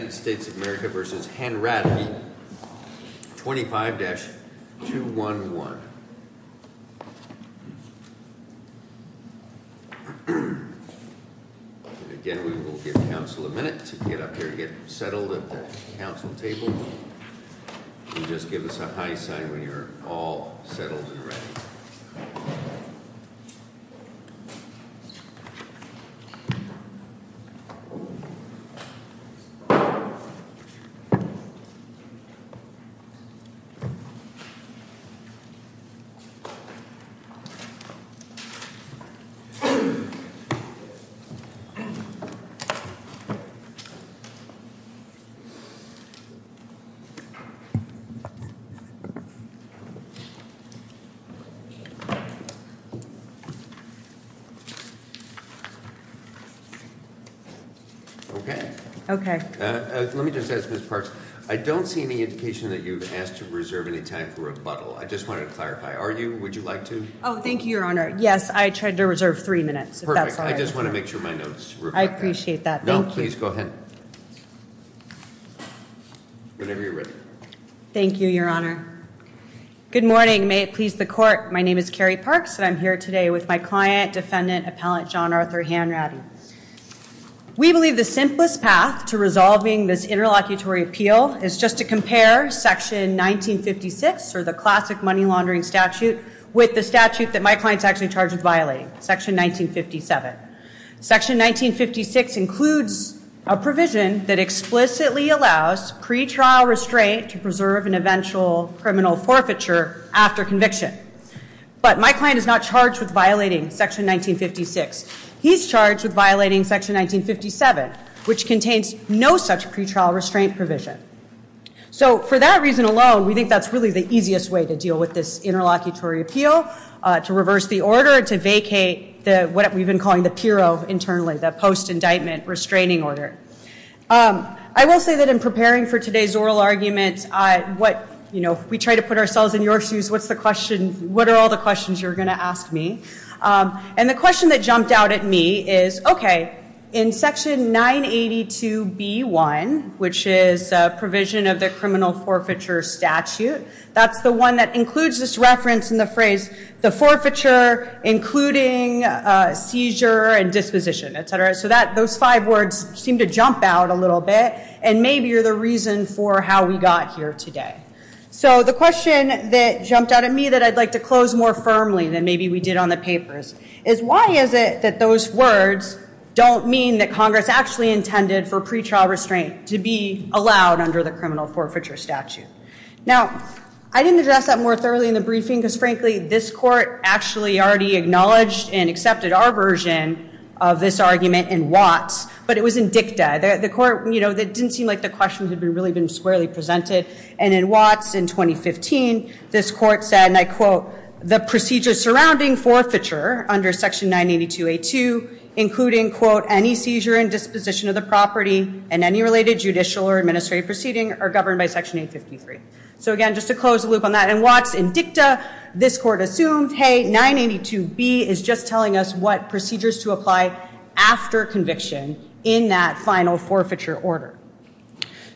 25-211. Again, we will give counsel a minute to get up here, to get settled at the counsel table, and just give us a high sign when you're all settled and ready. Okay. Okay. Let me just ask Ms. Parks, I don't see any indication that you've asked to reserve any time for rebuttal. I just wanted to clarify. Are you? Would you like to? Oh, thank you, Your Honor. Yes, I tried to reserve three minutes. Perfect. I just want to make sure my notes were correct. I appreciate that. Thank you. No, please go ahead. Whenever you're ready. Thank you, Your Honor. Good morning. May it please the court, my name is Carrie Parks and I'm here today with my client, defendant, appellant, John Arthur Hanratty. We believe the simplest path to resolving this interlocutory appeal is just to compare Section 1956, or the classic money laundering statute, with the statute that my client's actually charged with violating, Section 1957. Section 1956 includes a provision that explicitly allows pretrial restraint to preserve an eventual criminal forfeiture after conviction. But my client is not charged with violating Section 1956. He's charged with violating Section 1957, which contains no such pretrial restraint provision. So for that reason alone, we think that's really the easiest way to deal with this interlocutory appeal, to reverse the order, to vacate what we've been calling the PIRO internally, the post-indictment restraining order. I will say that in preparing for today's oral argument, if we try to put ourselves in your shoes, what are all the questions you're going to ask me? And the question that jumped out at me is, okay, in Section 982B1, which is a provision of the criminal forfeiture statute, that's the one that includes this reference in the phrase, the forfeiture including seizure and disposition, etc. So those five words seem to jump out a little bit, and maybe are the reason for how we got here today. So the question that jumped out at me that I'd like to close more firmly than maybe we did on the papers is, why is it that those words don't mean that Congress actually intended for pretrial restraint to be allowed under the criminal forfeiture statute? Now, I didn't address that more thoroughly in the briefing, because frankly, this court actually already acknowledged and accepted our version of this argument in Watts, but it was in dicta. The court, you know, it didn't seem like the questions had really been squarely presented. And in Watts in 2015, this court said, and I quote, the procedure surrounding forfeiture under Section 982A2, including, quote, any seizure and disposition of the property and any related judicial or administrative proceeding are governed by Section 853. So again, just to close the loop on that, in Watts in dicta, this court assumed, hey, 982B is just telling us what procedures to apply after conviction in that final forfeiture order.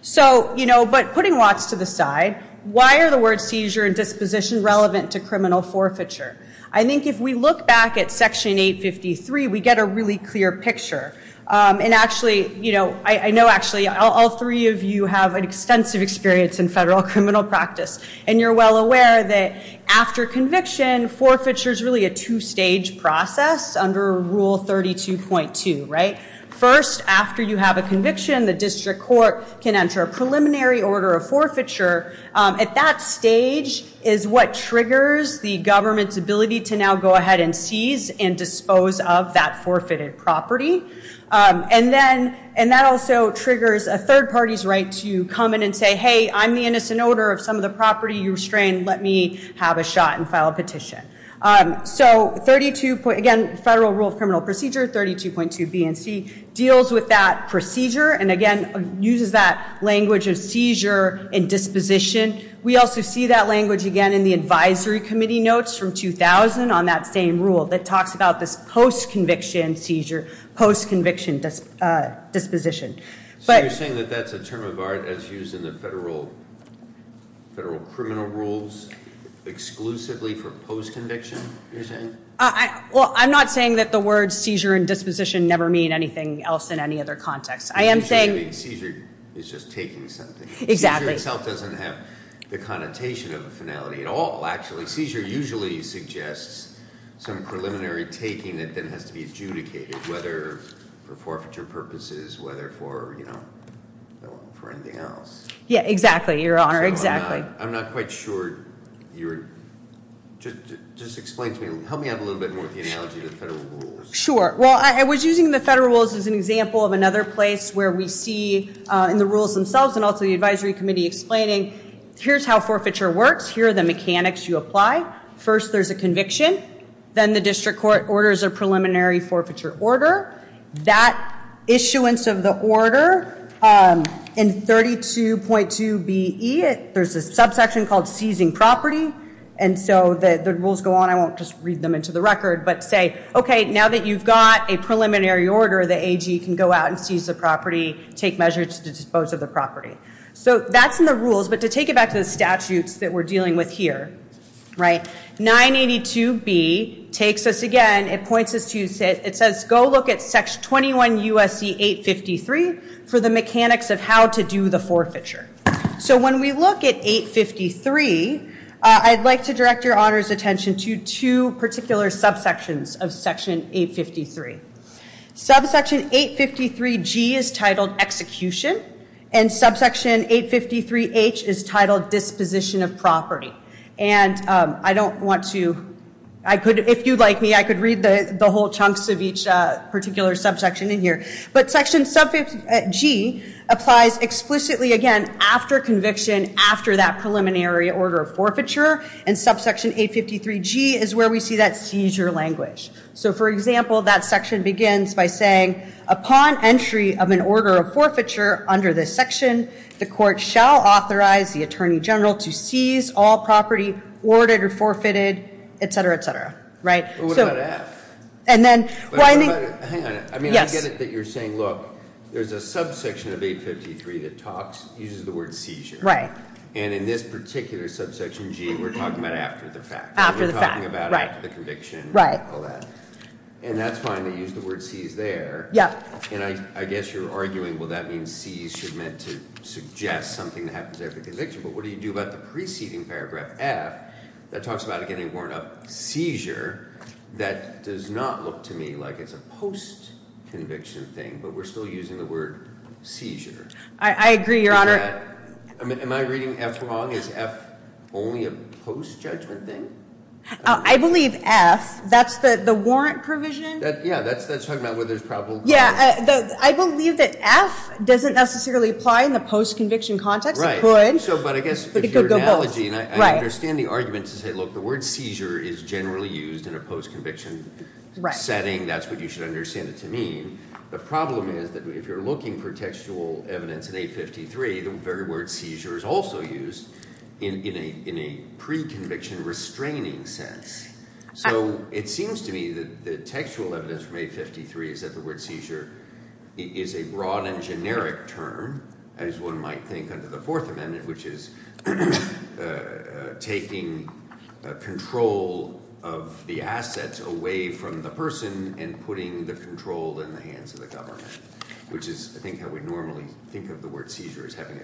So, you know, but putting Watts to the side, why are the words seizure and disposition relevant to criminal forfeiture? I think if we look back at Section 853, we get a really clear picture. And actually, you know, I know actually all three of you have an extensive experience in federal criminal practice. And you're well aware that after conviction, forfeiture is really a two-stage process under Rule 32.2, right? First, after you have a conviction, the district court can enter a preliminary order of forfeiture. At that stage is what triggers the government's ability to now go ahead and seize and dispose of that forfeited property. And then, and that also triggers a third party's right to come in and say, hey, I'm the innocent owner of some of the property you restrained. Let me have a shot and file a petition. So 32, again, Federal Rule of Criminal Procedure, 32.2 B and C deals with that procedure. And again, uses that language of seizure and disposition. We also see that language again in the advisory committee notes from 2000 on that same rule that talks about this post-conviction seizure, post-conviction disposition. But- So you're saying that that's a term of art as used in the federal criminal rules exclusively for post-conviction, you're saying? Well, I'm not saying that the words seizure and disposition never mean anything else in any other context. I am saying- Seizure is just taking something. Exactly. Seizure itself doesn't have the connotation of a finality at all, actually. Seizure usually suggests some preliminary taking that then has to be adjudicated, whether for forfeiture purposes, whether for anything else. Yeah, exactly, your honor, exactly. I'm not quite sure you're, just explain to me, help me out a little bit more with the analogy of the federal rules. Sure. Well, I was using the federal rules as an example of another place where we see in the rules themselves and also the advisory committee explaining, here's how forfeiture works. Here are the mechanics you apply. First, there's a conviction. Then the district court orders a preliminary forfeiture order. That issuance of the order in 32.2 BE, there's a subsection called seizing property. And so the rules go on, I won't just read them into the record, but say, okay, now that you've got a preliminary order, the AG can go out and seize the property, take measures to dispose of the property. So that's in the rules. But to take it back to the statutes that we're dealing with here, right, 982B takes us again, it points us to, it says, go look at section 21 U.S.C. 853 for the mechanics of how to do the forfeiture. So when we look at 853, I'd like to direct your honor's attention to two particular subsections of section 853. Subsection 853G is titled execution. And subsection 853H is titled disposition of property. And I don't want to, I could, if you'd like me, I could read the whole chunks of each particular subsection in here. But section 853G applies explicitly, again, after conviction, after that preliminary order of forfeiture. And subsection 853G is where we see that seizure language. So, for example, that section begins by saying, upon entry of an order of forfeiture under this section, the court shall authorize the attorney general to seize all property ordered or forfeited, etc., etc., right? So- And then, well, I think- Hang on. Yes. I mean, I get it that you're saying, look, there's a subsection of 853 that talks, uses the word seizure. Right. And in this particular subsection, G, we're talking about after the fact. After the fact, right. After the conviction, all that. Right. And that's fine. They use the word seize there. Yep. And I guess you're arguing, well, that means seize should meant to suggest something that happens after the conviction. But what do you do about the preceding paragraph, F, that talks about it getting worn up, seizure, that does not look to me like it's a post-conviction thing. But we're still using the word seizure. I agree, Your Honor. Am I reading F wrong? Is F only a post-judgment thing? I believe F, that's the warrant provision. Yeah. That's talking about where there's probable cause. Yeah. I believe that F doesn't necessarily apply in the post-conviction context. It could. But it could go both. I understand the argument to say, look, the word seizure is generally used in a post-conviction setting. That's what you should understand it to mean. The problem is that if you're looking for textual evidence in 853, the very word seizure is also used in a pre-conviction restraining sense. So it seems to me that the textual evidence from 853 is that the word seizure is a broad and generic term, as one might think under the Fourth Amendment, which is taking control of the assets away from the person and putting the control in the hands of the government, which is, I think, how we normally think of the word seizure as having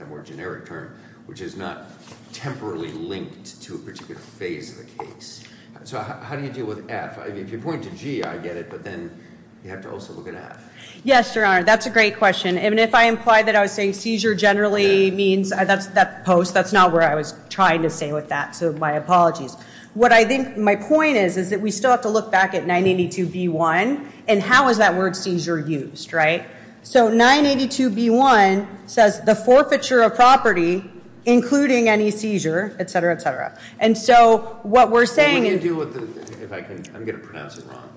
a more generic term, which is not temporally linked to a particular phase of the case. So how do you deal with F? If you point to G, I get it, but then you have to also look at F. Yes, Your Honor. That's a great question. And if I implied that I was saying seizure generally means that post, that's not what I was trying to say with that, so my apologies. What I think my point is is that we still have to look back at 982B1 and how is that word seizure used, right? So 982B1 says the forfeiture of property, including any seizure, et cetera, et cetera. And so what we're saying is – What do you do with the – if I can – I'm going to pronounce it wrong.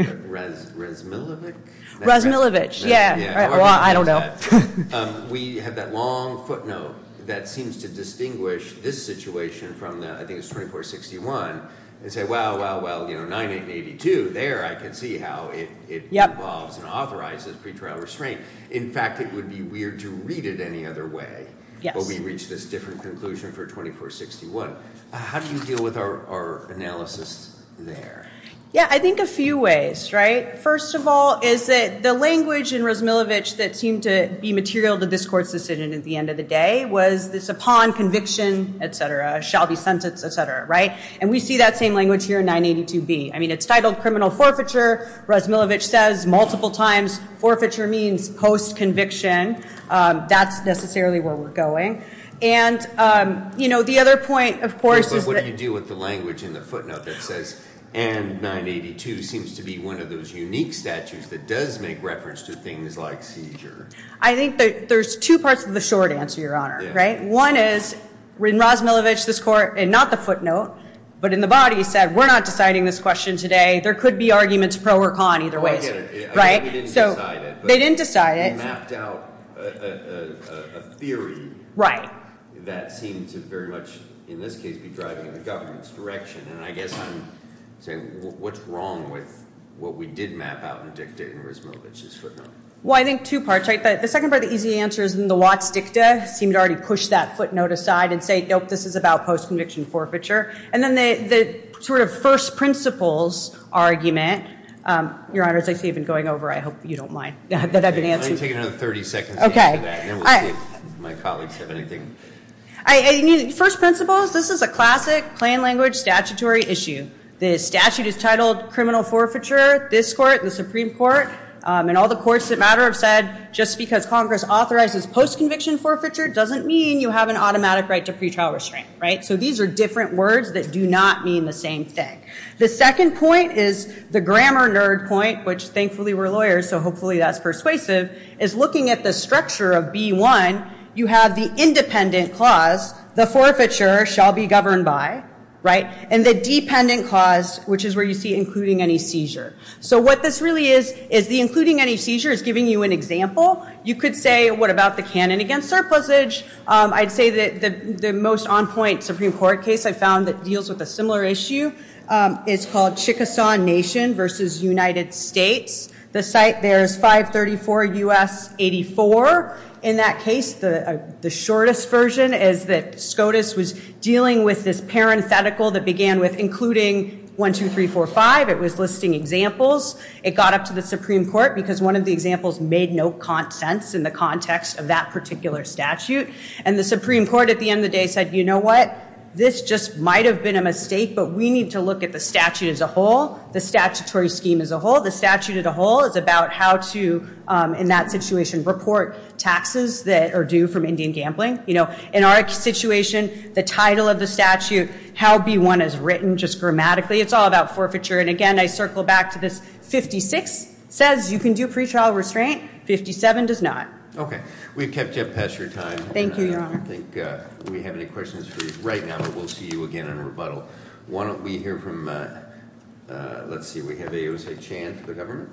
Resmilovich? Resmilovich, yeah. Well, I don't know. We have that long footnote that seems to distinguish this situation from, I think it's 2461, and say, well, well, well, 982, there I can see how it involves and authorizes pretrial restraint. In fact, it would be weird to read it any other way. Yes. But we reached this different conclusion for 2461. How do you deal with our analysis there? Yeah, I think a few ways, right? First of all is that the language in Resmilovich that seemed to be material to this court's decision at the end of the day was this upon conviction, et cetera, shall be sentenced, et cetera, right? And we see that same language here in 982B. I mean it's titled criminal forfeiture. Resmilovich says multiple times forfeiture means post-conviction. That's necessarily where we're going. And the other point, of course, is that- But what do you do with the language in the footnote that says and 982 seems to be one of those unique statutes that does make reference to things like seizure? I think there's two parts to the short answer, Your Honor, right? One is in Resmilovich, this court, and not the footnote, but in the body, said we're not deciding this question today. There could be arguments pro or con either way. I get it. I get it. We didn't decide it. They didn't decide it. They mapped out a theory that seemed to very much, in this case, be driving in the government's direction. And I guess I'm saying what's wrong with what we did map out in the dicta in Resmilovich's footnote? Well, I think two parts. The second part of the easy answer is in the Watts dicta seemed to already push that footnote aside and say, nope, this is about post-conviction forfeiture. And then the sort of first principles argument, Your Honor, as I see you've been going over, I hope you don't mind that I've been answering. Let me take another 30 seconds to answer that, and then we'll see if my colleagues have anything. First principles, this is a classic plain language statutory issue. The statute is titled criminal forfeiture. This court, the Supreme Court, and all the courts that matter have said just because Congress authorizes post-conviction forfeiture doesn't mean you have an automatic right to pretrial restraint, right? So these are different words that do not mean the same thing. The second point is the grammar nerd point, which thankfully we're lawyers, so hopefully that's persuasive, is looking at the structure of B-1. You have the independent clause, the forfeiture shall be governed by, right? And the dependent clause, which is where you see including any seizure. So what this really is is the including any seizure is giving you an example. You could say, what about the canon against surplusage? I'd say that the most on-point Supreme Court case I've found that deals with a similar issue is called Chickasaw Nation versus United States. The site there is 534 U.S. 84. In that case, the shortest version is that SCOTUS was dealing with this parenthetical that began with including 1, 2, 3, 4, 5. It was listing examples. It got up to the Supreme Court because one of the examples made no sense in the context of that particular statute. And the Supreme Court at the end of the day said, you know what? This just might have been a mistake, but we need to look at the statute as a whole, the statutory scheme as a whole. The statute as a whole is about how to, in that situation, report taxes that are due from Indian gambling. In our situation, the title of the statute, how B-1 is written just grammatically, it's all about forfeiture. And again, I circle back to this 56 says you can do pretrial restraint. 57 does not. We've kept you up past your time. Thank you, Your Honor. I don't think we have any questions for you right now, but we'll see you again in rebuttal. Why don't we hear from, let's see, we have AOC Chan for the government.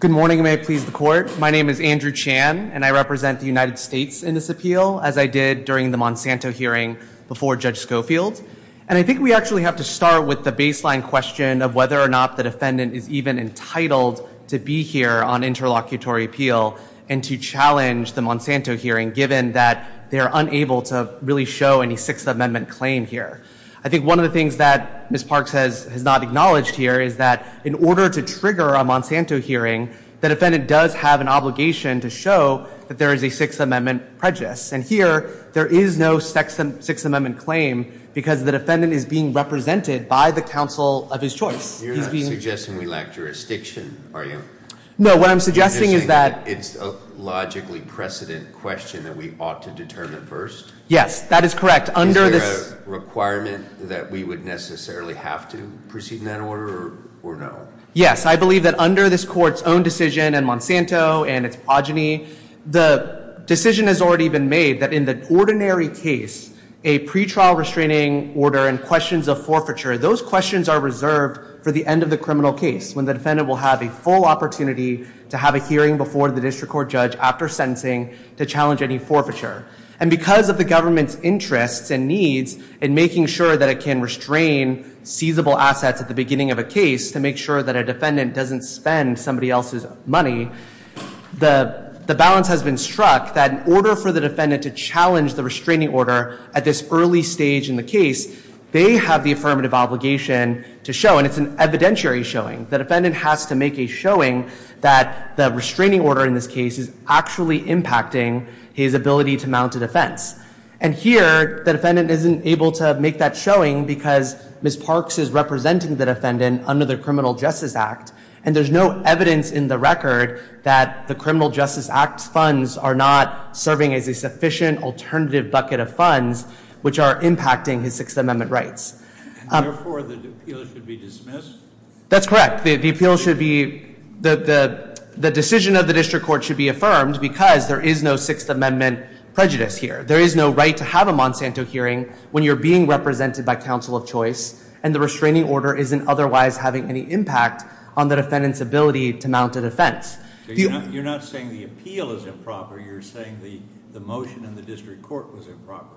Good morning. May I please the court? My name is Andrew Chan, and I represent the United States in this appeal, as I did during the Monsanto hearing before Judge Schofield. And I think we actually have to start with the baseline question of whether or not the defendant is even entitled to be here on interlocutory appeal and to challenge the Monsanto hearing, given that they are unable to really show any Sixth Amendment claim here. I think one of the things that Ms. Parks has not acknowledged here is that in order to trigger a Monsanto hearing, the defendant does have an obligation to show that there is a Sixth Amendment prejudice. And here, there is no Sixth Amendment claim because the defendant is being represented by the counsel of his choice. You're not suggesting we lack jurisdiction, are you? No, what I'm suggesting is that— You're suggesting it's a logically precedent question that we ought to determine first? Yes, that is correct. Under this— Is there a requirement that we would necessarily have to proceed in that order, or no? Yes, I believe that under this court's own decision and Monsanto and its progeny, the decision has already been made that in the ordinary case, a pretrial restraining order and questions of forfeiture, those questions are reserved for the end of the criminal case, when the defendant will have a full opportunity to have a hearing before the district court judge after sentencing to challenge any forfeiture. And because of the government's interests and needs in making sure that it can restrain seizable assets at the beginning of a case to make sure that a defendant doesn't spend somebody else's money, the balance has been struck that in order for the defendant to challenge the restraining order at this early stage in the case, they have the affirmative obligation to show, and it's an evidentiary showing. The defendant has to make a showing that the restraining order in this case is actually impacting his ability to mount a defense. And here, the defendant isn't able to make that showing because Ms. Parks is representing the defendant under the Criminal Justice Act. And there's no evidence in the record that the Criminal Justice Act funds are not serving as a sufficient alternative bucket of funds, which are impacting his Sixth Amendment rights. Therefore, the appeal should be dismissed? That's correct. The appeal should be, the decision of the district court should be affirmed because there is no Sixth Amendment prejudice here. There is no right to have a Monsanto hearing when you're being represented by counsel of choice, and the restraining order isn't otherwise having any impact on the defendant's ability to mount a defense. You're not saying the appeal is improper. You're saying the motion in the district court was improper.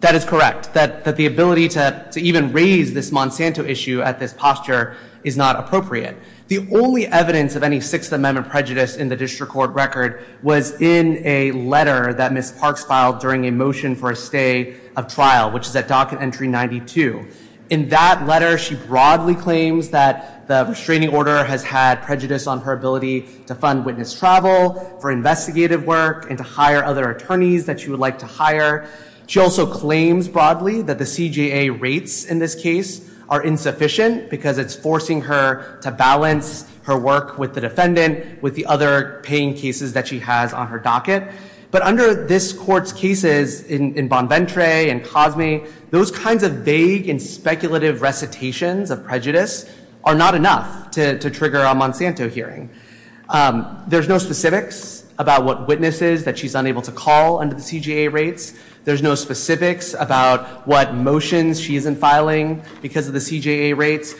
That is correct, that the ability to even raise this Monsanto issue at this posture is not appropriate. The only evidence of any Sixth Amendment prejudice in the district court record was in a letter that Ms. Parks filed during a motion for a stay of trial, which is at Docket Entry 92. In that letter, she broadly claims that the restraining order has had prejudice on her ability to fund witness travel, for investigative work, and to hire other attorneys that she would like to hire. She also claims broadly that the CJA rates in this case are insufficient because it's forcing her to balance her work with the defendant, with the other paying cases that she has on her docket. But under this court's cases in Bonventre and Cosme, those kinds of vague and speculative recitations of prejudice are not enough to trigger a Monsanto hearing. There's no specifics about what witnesses that she's unable to call under the CJA rates. There's no specifics about what motions she isn't filing because of the CJA rates.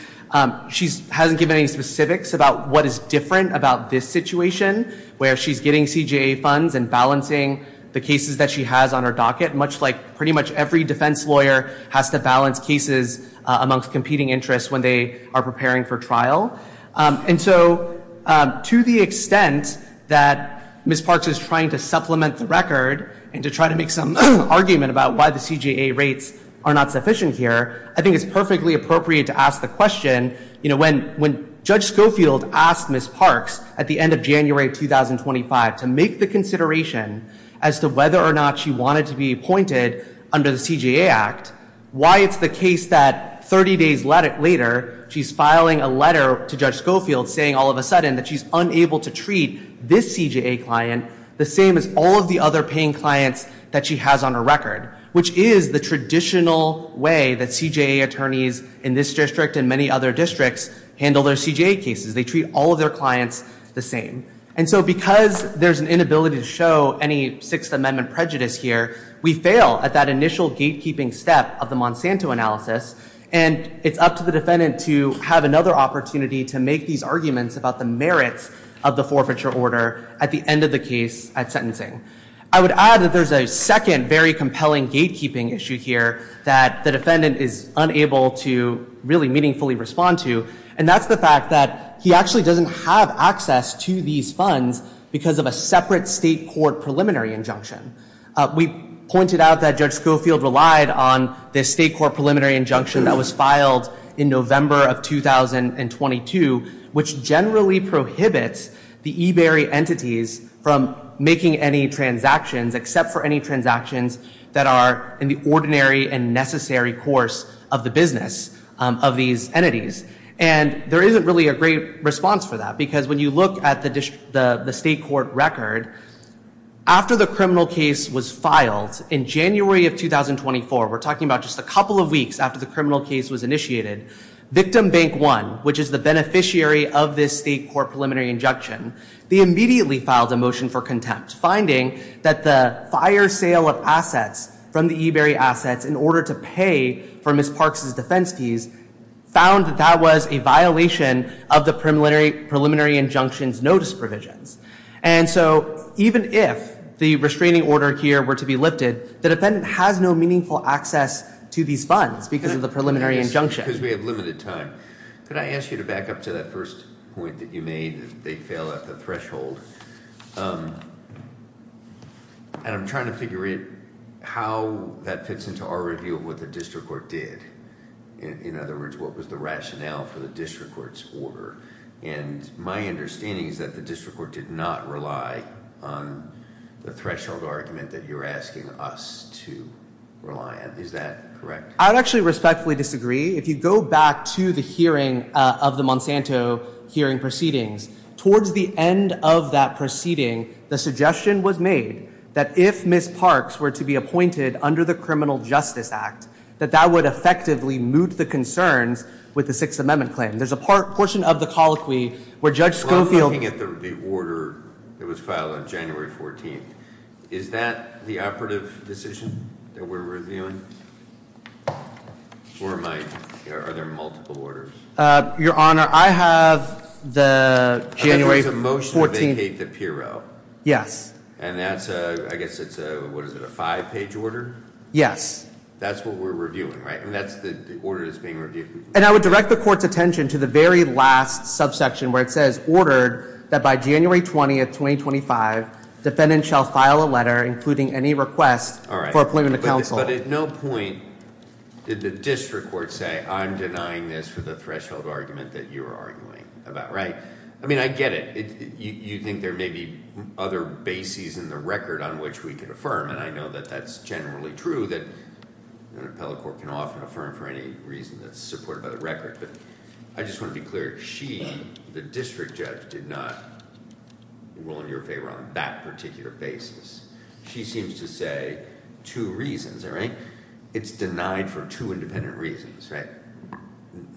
She hasn't given any specifics about what is different about this situation, where she's getting CJA funds and balancing the cases that she has on her docket, much like pretty much every defense lawyer has to balance cases amongst competing interests when they are preparing for trial. And so to the extent that Ms. Parks is trying to supplement the record and to try to make some argument about why the CJA rates are not sufficient here, I think it's perfectly appropriate to ask the question, you know, when Judge Schofield asked Ms. Parks at the end of January 2025 to make the consideration as to whether or not she wanted to be appointed under the CJA Act, why it's the case that 30 days later she's filing a letter to Judge Schofield saying all of a sudden that she's unable to treat this CJA client the same as all of the other paying clients that she has on her record, which is the traditional way that CJA attorneys in this district and many other districts handle their CJA cases. They treat all of their clients the same. And so because there's an inability to show any Sixth Amendment prejudice here, we fail at that initial gatekeeping step of the Monsanto analysis, and it's up to the defendant to have another opportunity to make these arguments about the merits of the forfeiture order at the end of the case at sentencing. I would add that there's a second very compelling gatekeeping issue here that the defendant is unable to really meaningfully respond to, and that's the fact that he actually doesn't have access to these funds because of a separate state court preliminary injunction. We pointed out that Judge Schofield relied on the state court preliminary injunction that was filed in November of 2022, which generally prohibits the eBury entities from making any transactions, except for any transactions that are in the ordinary and necessary course of the business of these entities. And there isn't really a great response for that because when you look at the state court record, after the criminal case was filed in January of 2024, we're talking about just a couple of weeks after the criminal case was initiated, Victim Bank One, which is the beneficiary of this state court preliminary injunction, they immediately filed a motion for contempt, finding that the fire sale of assets from the eBury assets in order to pay for Ms. Parks' defense fees found that that was a violation of the preliminary injunction's notice provisions. And so even if the restraining order here were to be lifted, the defendant has no meaningful access to these funds because of the preliminary injunction. Because we have limited time. Could I ask you to back up to that first point that you made that they fail at the threshold? And I'm trying to figure out how that fits into our review of what the district court did. In other words, what was the rationale for the district court's order? And my understanding is that the district court did not rely on the threshold argument that you're asking us to rely on. Is that correct? I would actually respectfully disagree. If you go back to the hearing of the Monsanto hearing proceedings, towards the end of that proceeding, the suggestion was made that if Ms. Parks were to be appointed under the Criminal Justice Act, that that would effectively moot the concerns with the Sixth Amendment claim. There's a portion of the colloquy where Judge Schofield- Well, I'm looking at the order that was filed on January 14th. Is that the operative decision that we're reviewing? Or are there multiple orders? Your Honor, I have the January 14th- Okay, there's a motion to vacate the PRO. Yes. And that's a, I guess it's a, what is it, a five-page order? Yes. That's what we're reviewing, right? And that's the order that's being reviewed. And I would direct the Court's attention to the very last subsection where it says, ordered that by January 20th, 2025, defendant shall file a letter including any request for appointment to counsel. But at no point did the district court say, I'm denying this for the threshold argument that you're arguing about, right? I mean, I get it. You think there may be other bases in the record on which we can affirm, and I know that that's generally true, that an appellate court can often affirm for any reason that's supported by the record. But I just want to be clear. She, the district judge, did not rule in your favor on that particular basis. She seems to say two reasons, all right? It's denied for two independent reasons, right?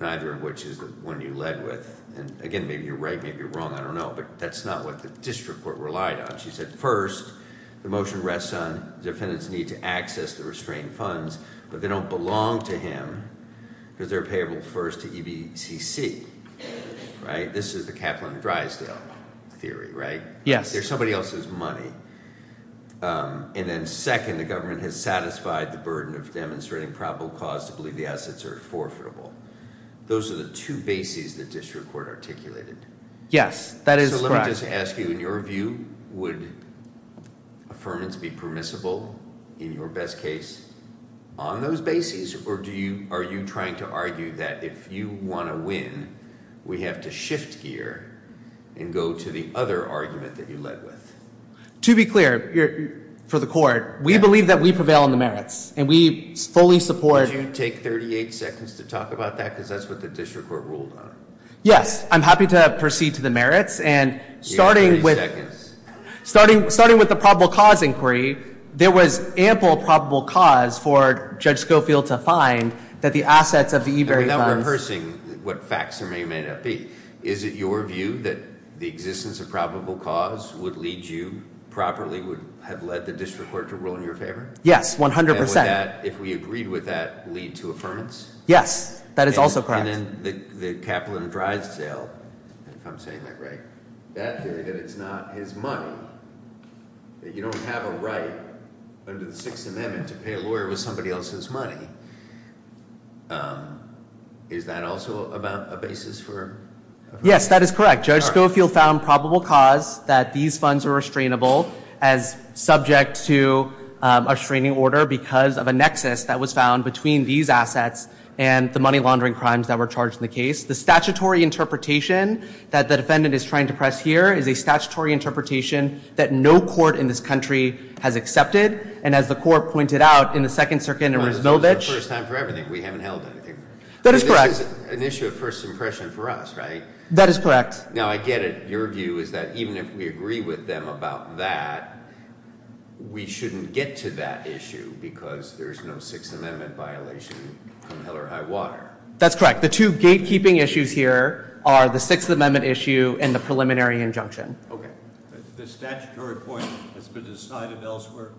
Neither of which is the one you led with. And again, maybe you're right, maybe you're wrong, I don't know. But that's not what the district court relied on. She said, first, the motion rests on the defendant's need to access the restrained funds, but they don't belong to him because they're payable first to EBCC, right? This is the Kaplan-Greisdell theory, right? Yes. They're somebody else's money. And then, second, the government has satisfied the burden of demonstrating probable cause to believe the assets are forfeitable. Those are the two bases the district court articulated. Yes, that is correct. So let me just ask you, in your view, would affirmance be permissible in your best case on those bases? Or are you trying to argue that if you want to win, we have to shift gear and go to the other argument that you led with? To be clear, for the court, we believe that we prevail on the merits, and we fully support ‑‑ Would you take 38 seconds to talk about that? Because that's what the district court ruled on. Yes, I'm happy to proceed to the merits, and starting with the probable cause inquiry, there was ample probable cause for Judge Schofield to find that the assets of the eBury funds ‑‑ I'm not rehearsing what facts may or may not be. Is it your view that the existence of probable cause would lead you properly, would have led the district court to rule in your favor? Yes, 100%. And would that, if we agreed with that, lead to affirmance? Yes, that is also correct. And then the Kaplan drive sale, if I'm saying that right, that theory that it's not his money, that you don't have a right under the Sixth Amendment to pay a lawyer with somebody else's money, is that also about a basis for affirmation? Yes, that is correct. Judge Schofield found probable cause that these funds are restrainable as subject to a restraining order because of a nexus that was found between these assets and the money laundering crimes that were charged in the case. The statutory interpretation that the defendant is trying to press here is a statutory interpretation that no court in this country has accepted, and as the court pointed out in the Second Circuit in Rysbeldich. This is the first time for everything. We haven't held anything. That is correct. This is an issue of first impression for us, right? That is correct. Now, I get it. Your view is that even if we agree with them about that, we shouldn't get to that issue because there's no Sixth Amendment violation from hell or high water. That's correct. The two gatekeeping issues here are the Sixth Amendment issue and the preliminary injunction. Okay. The statutory point has been decided elsewhere?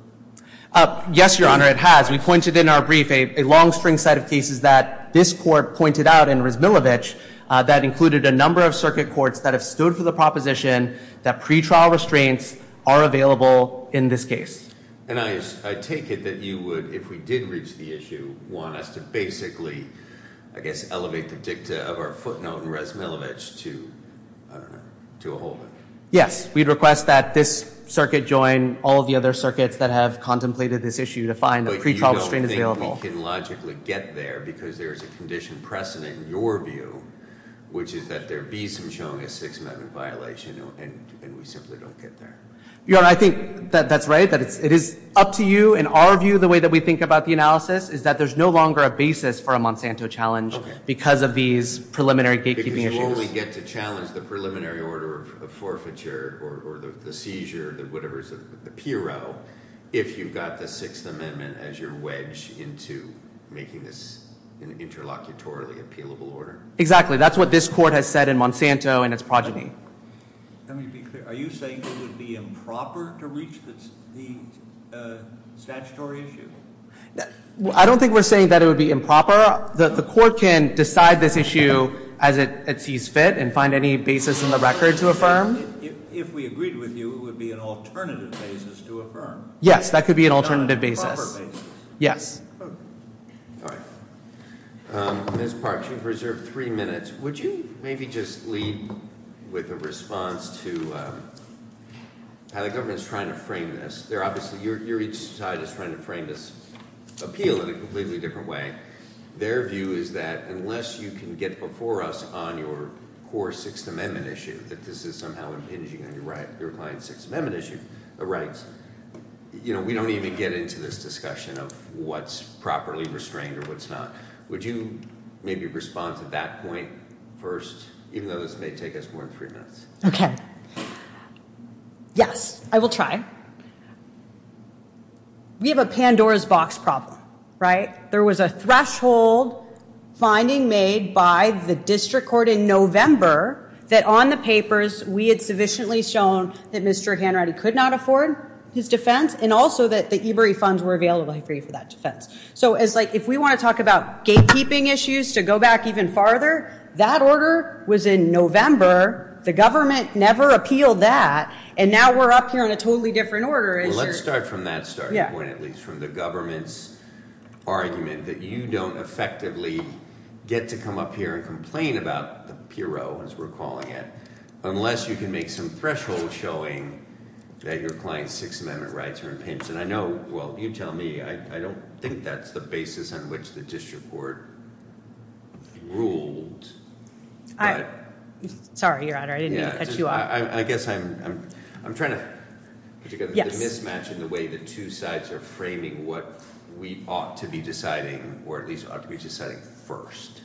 Yes, Your Honor, it has. We pointed in our brief a long string set of cases that this court pointed out in Rysbeldich that included a number of circuit courts that have stood for the proposition that pretrial restraints are available in this case. And I take it that you would, if we did reach the issue, want us to basically, I guess, elevate the dicta of our footnote in Rysbeldich to a whole? Yes, we'd request that this circuit join all of the other circuits that have contemplated this issue to find the pretrial restraints available. I don't think we can logically get there because there's a condition precedent in your view, which is that there be some showing a Sixth Amendment violation and we simply don't get there. Your Honor, I think that's right. It is up to you and our view, the way that we think about the analysis, is that there's no longer a basis for a Monsanto challenge because of these preliminary gatekeeping issues. Because you only get to challenge the preliminary order of forfeiture or the seizure, or whatever is the PRO, if you've got the Sixth Amendment as your wedge into making this an interlocutorily appealable order. Exactly. That's what this court has said in Monsanto in its progeny. Let me be clear. Are you saying it would be improper to reach the statutory issue? I don't think we're saying that it would be improper. The court can decide this issue as it sees fit and find any basis in the record to affirm. If we agreed with you, it would be an alternative basis to affirm. Yes, that could be an alternative basis. Yes. All right. Ms. Parks, you've reserved three minutes. Would you maybe just lead with a response to how the government is trying to frame this? Obviously, your side is trying to frame this appeal in a completely different way. Their view is that unless you can get before us on your core Sixth Amendment issue, that this is somehow impinging on your client's Sixth Amendment rights, we don't even get into this discussion of what's properly restrained or what's not. Would you maybe respond to that point first, even though this may take us more than three minutes? Okay. Yes, I will try. We have a Pandora's box problem, right? There was a threshold finding made by the district court in November that on the papers, we had sufficiently shown that Mr. Hanratty could not afford his defense and also that the EBRE funds were available for you for that defense. So if we want to talk about gatekeeping issues to go back even farther, that order was in November. The government never appealed that, and now we're up here on a totally different order issue. Let's start from that starting point, at least, from the government's argument that you don't effectively get to come up here and complain about the PRO, as we're calling it, unless you can make some threshold showing that your client's Sixth Amendment rights are impinged. I know, well, you tell me. I don't think that's the basis on which the district court ruled. Sorry, Your Honor. I didn't mean to cut you off. I guess I'm trying to put together the mismatch in the way the two sides are framing what we ought to be deciding, or at least ought to be deciding first.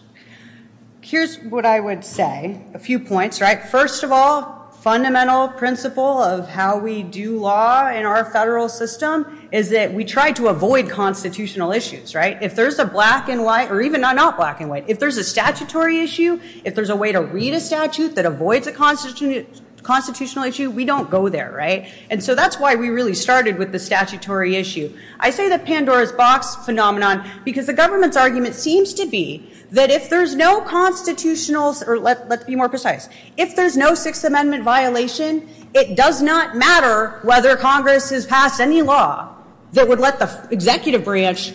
Here's what I would say, a few points, right? First of all, fundamental principle of how we do law in our federal system is that we try to avoid constitutional issues, right? If there's a black and white, or even not black and white, if there's a statutory issue, if there's a way to read a statute that avoids a constitutional issue, we don't go there, right? And so that's why we really started with the statutory issue. I say the Pandora's box phenomenon because the government's argument seems to be that if there's no constitutional, or let's be more precise, if there's no Sixth Amendment violation, it does not matter whether Congress has passed any law that would let the executive branch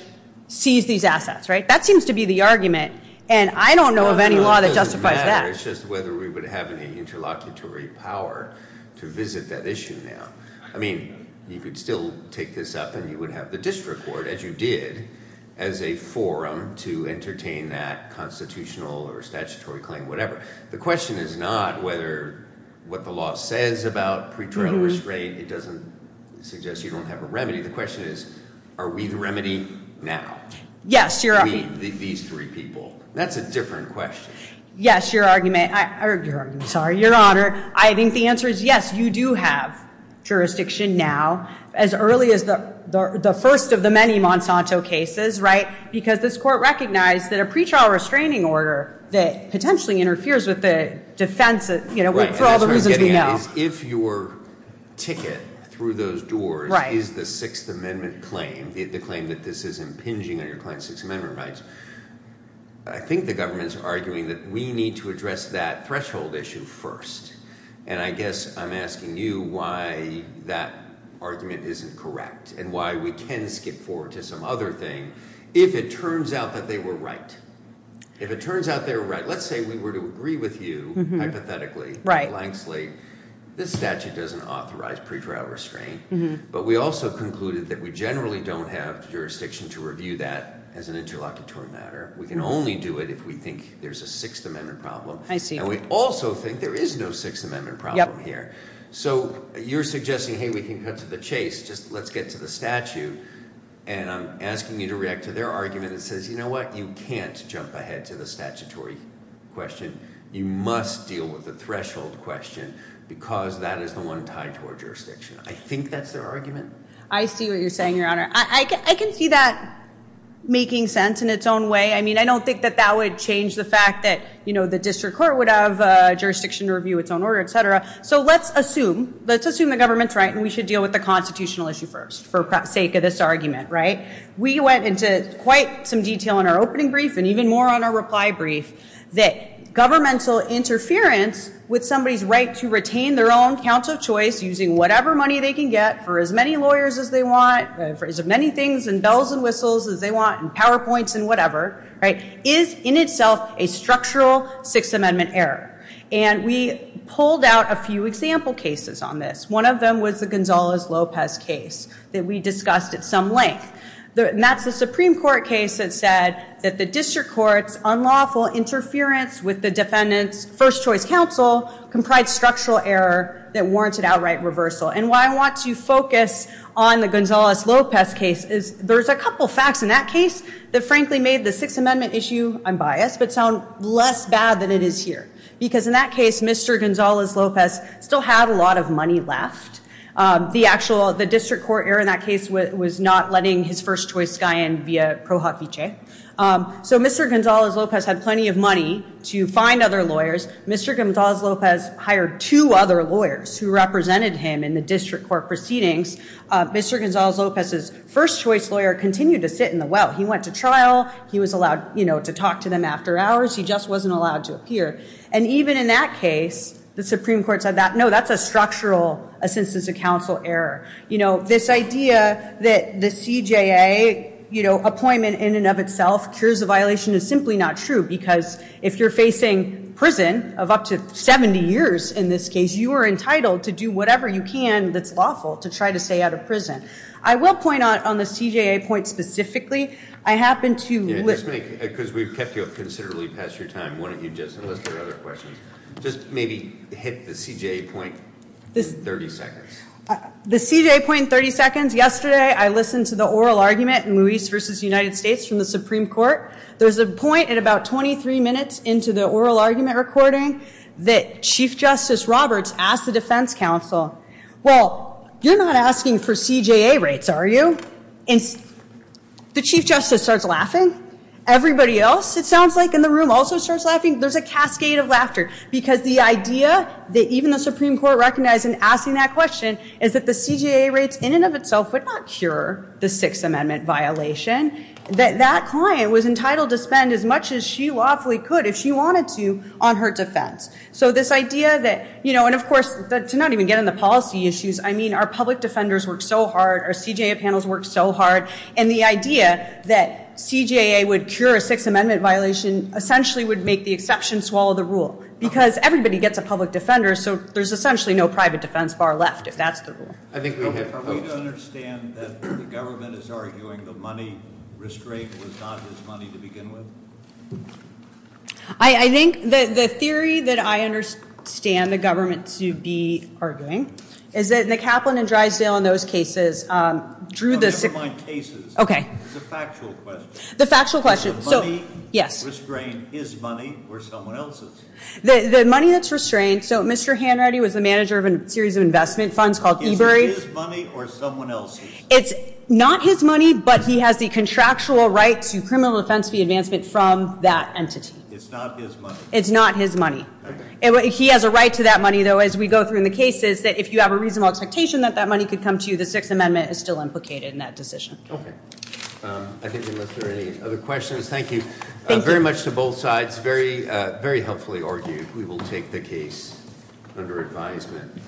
seize these assets, right? That seems to be the argument, and I don't know of any law that justifies that. It doesn't matter, it's just whether we would have any interlocutory power to visit that issue now. I mean, you could still take this up and you would have the district court, as you did, as a forum to entertain that constitutional or statutory claim, whatever. The question is not whether what the law says about pretrial restraint, it doesn't suggest you don't have a remedy. The question is, are we the remedy now? I mean, these three people. That's a different question. Yes, your argument. Your argument, sorry. Your Honor, I think the answer is yes, you do have jurisdiction now, as early as the first of the many Monsanto cases, right? Because this court recognized that a pretrial restraining order that potentially interferes with the defense for all the reasons we know. If your ticket through those doors is the Sixth Amendment claim, the claim that this is impinging on your client's Sixth Amendment rights, I think the government's arguing that we need to address that threshold issue first. And I guess I'm asking you why that argument isn't correct and why we can skip forward to some other thing if it turns out that they were right. If it turns out they were right. Let's say we were to agree with you, hypothetically, blank slate. This statute doesn't authorize pretrial restraint. But we also concluded that we generally don't have jurisdiction to review that as an interlocutor matter. We can only do it if we think there's a Sixth Amendment problem. I see. And we also think there is no Sixth Amendment problem here. So you're suggesting, hey, we can cut to the chase. Just let's get to the statute. And I'm asking you to react to their argument that says, you know what, you can't jump ahead to the statutory question. You must deal with the threshold question because that is the one tied to our jurisdiction. I think that's their argument. I see what you're saying, Your Honor. I can see that making sense in its own way. I mean, I don't think that that would change the fact that the district court would have jurisdiction to review its own order, et cetera. So let's assume, let's assume the government's right and we should deal with the constitutional issue first for sake of this argument, right? We went into quite some detail in our opening brief and even more on our reply brief that governmental interference with somebody's right to retain their own counts of choice using whatever money they can get for as many lawyers as they want, for as many things and bells and whistles as they want and PowerPoints and whatever, right, is in itself a structural Sixth Amendment error. And we pulled out a few example cases on this. One of them was the Gonzales-Lopez case that we discussed at some length. And that's the Supreme Court case that said that the district court's unlawful interference with the defendant's first choice counsel comprised structural error that warranted outright reversal. And why I want to focus on the Gonzales-Lopez case is there's a couple facts in that case that frankly made the Sixth Amendment issue, I'm biased, but sound less bad than it is here. Because in that case, Mr. Gonzales-Lopez still had a lot of money left. The actual, the district court error in that case was not letting his first choice guy in via pro hoc vice. So Mr. Gonzales-Lopez had plenty of money to find other lawyers. Mr. Gonzales-Lopez hired two other lawyers who represented him in the district court proceedings. Mr. Gonzales-Lopez's first choice lawyer continued to sit in the well. He went to trial. He was allowed, you know, to talk to them after hours. He just wasn't allowed to appear. And even in that case, the Supreme Court said that, no, that's a structural, a sentence of counsel error. You know, this idea that the CJA, you know, appointment in and of itself cures a violation is simply not true. Because if you're facing prison of up to 70 years in this case, you are entitled to do whatever you can that's lawful to try to stay out of prison. I will point out on the CJA point specifically, I happen to. Because we've kept you up considerably past your time. Why don't you just, unless there are other questions, just maybe hit the CJA point in 30 seconds. The CJA point in 30 seconds. Yesterday I listened to the oral argument in Luis v. United States from the Supreme Court. There was a point at about 23 minutes into the oral argument recording that Chief Justice Roberts asked the defense counsel, well, you're not asking for CJA rates, are you? And the Chief Justice starts laughing. Everybody else, it sounds like, in the room also starts laughing. There's a cascade of laughter. Because the idea that even the Supreme Court recognized in asking that question is that the CJA rates in and of itself would not cure the Sixth Amendment violation. That that client was entitled to spend as much as she lawfully could if she wanted to on her defense. So this idea that, you know, and of course, to not even get into policy issues, I mean, our public defenders work so hard. Our CJA panels work so hard. And the idea that CJA would cure a Sixth Amendment violation essentially would make the exception swallow the rule. Because everybody gets a public defender, so there's essentially no private defense bar left, if that's the rule. I think we have. Are we to understand that the government is arguing the money risk rate was not his money to begin with? I think that the theory that I understand the government to be arguing is that the Kaplan and Drysdale in those cases drew this. Never mind cases. Okay. It's a factual question. The factual question. So. The money that's restrained is money or someone else's. The money that's restrained. So Mr. Hanratty was the manager of a series of investment funds called eBury. Is it his money or someone else's? It's not his money, but he has the contractual right to criminal defense fee advancement from that entity. It's not his money. It's not his money. Okay. He has a right to that money, though, as we go through in the cases, that if you have a reasonable expectation that that money could come to you, the Sixth Amendment is still implicated in that decision. Okay. I think unless there are any other questions. Thank you. Thank you. Very much to both sides. Very helpfully argued. We will take the case under advisement.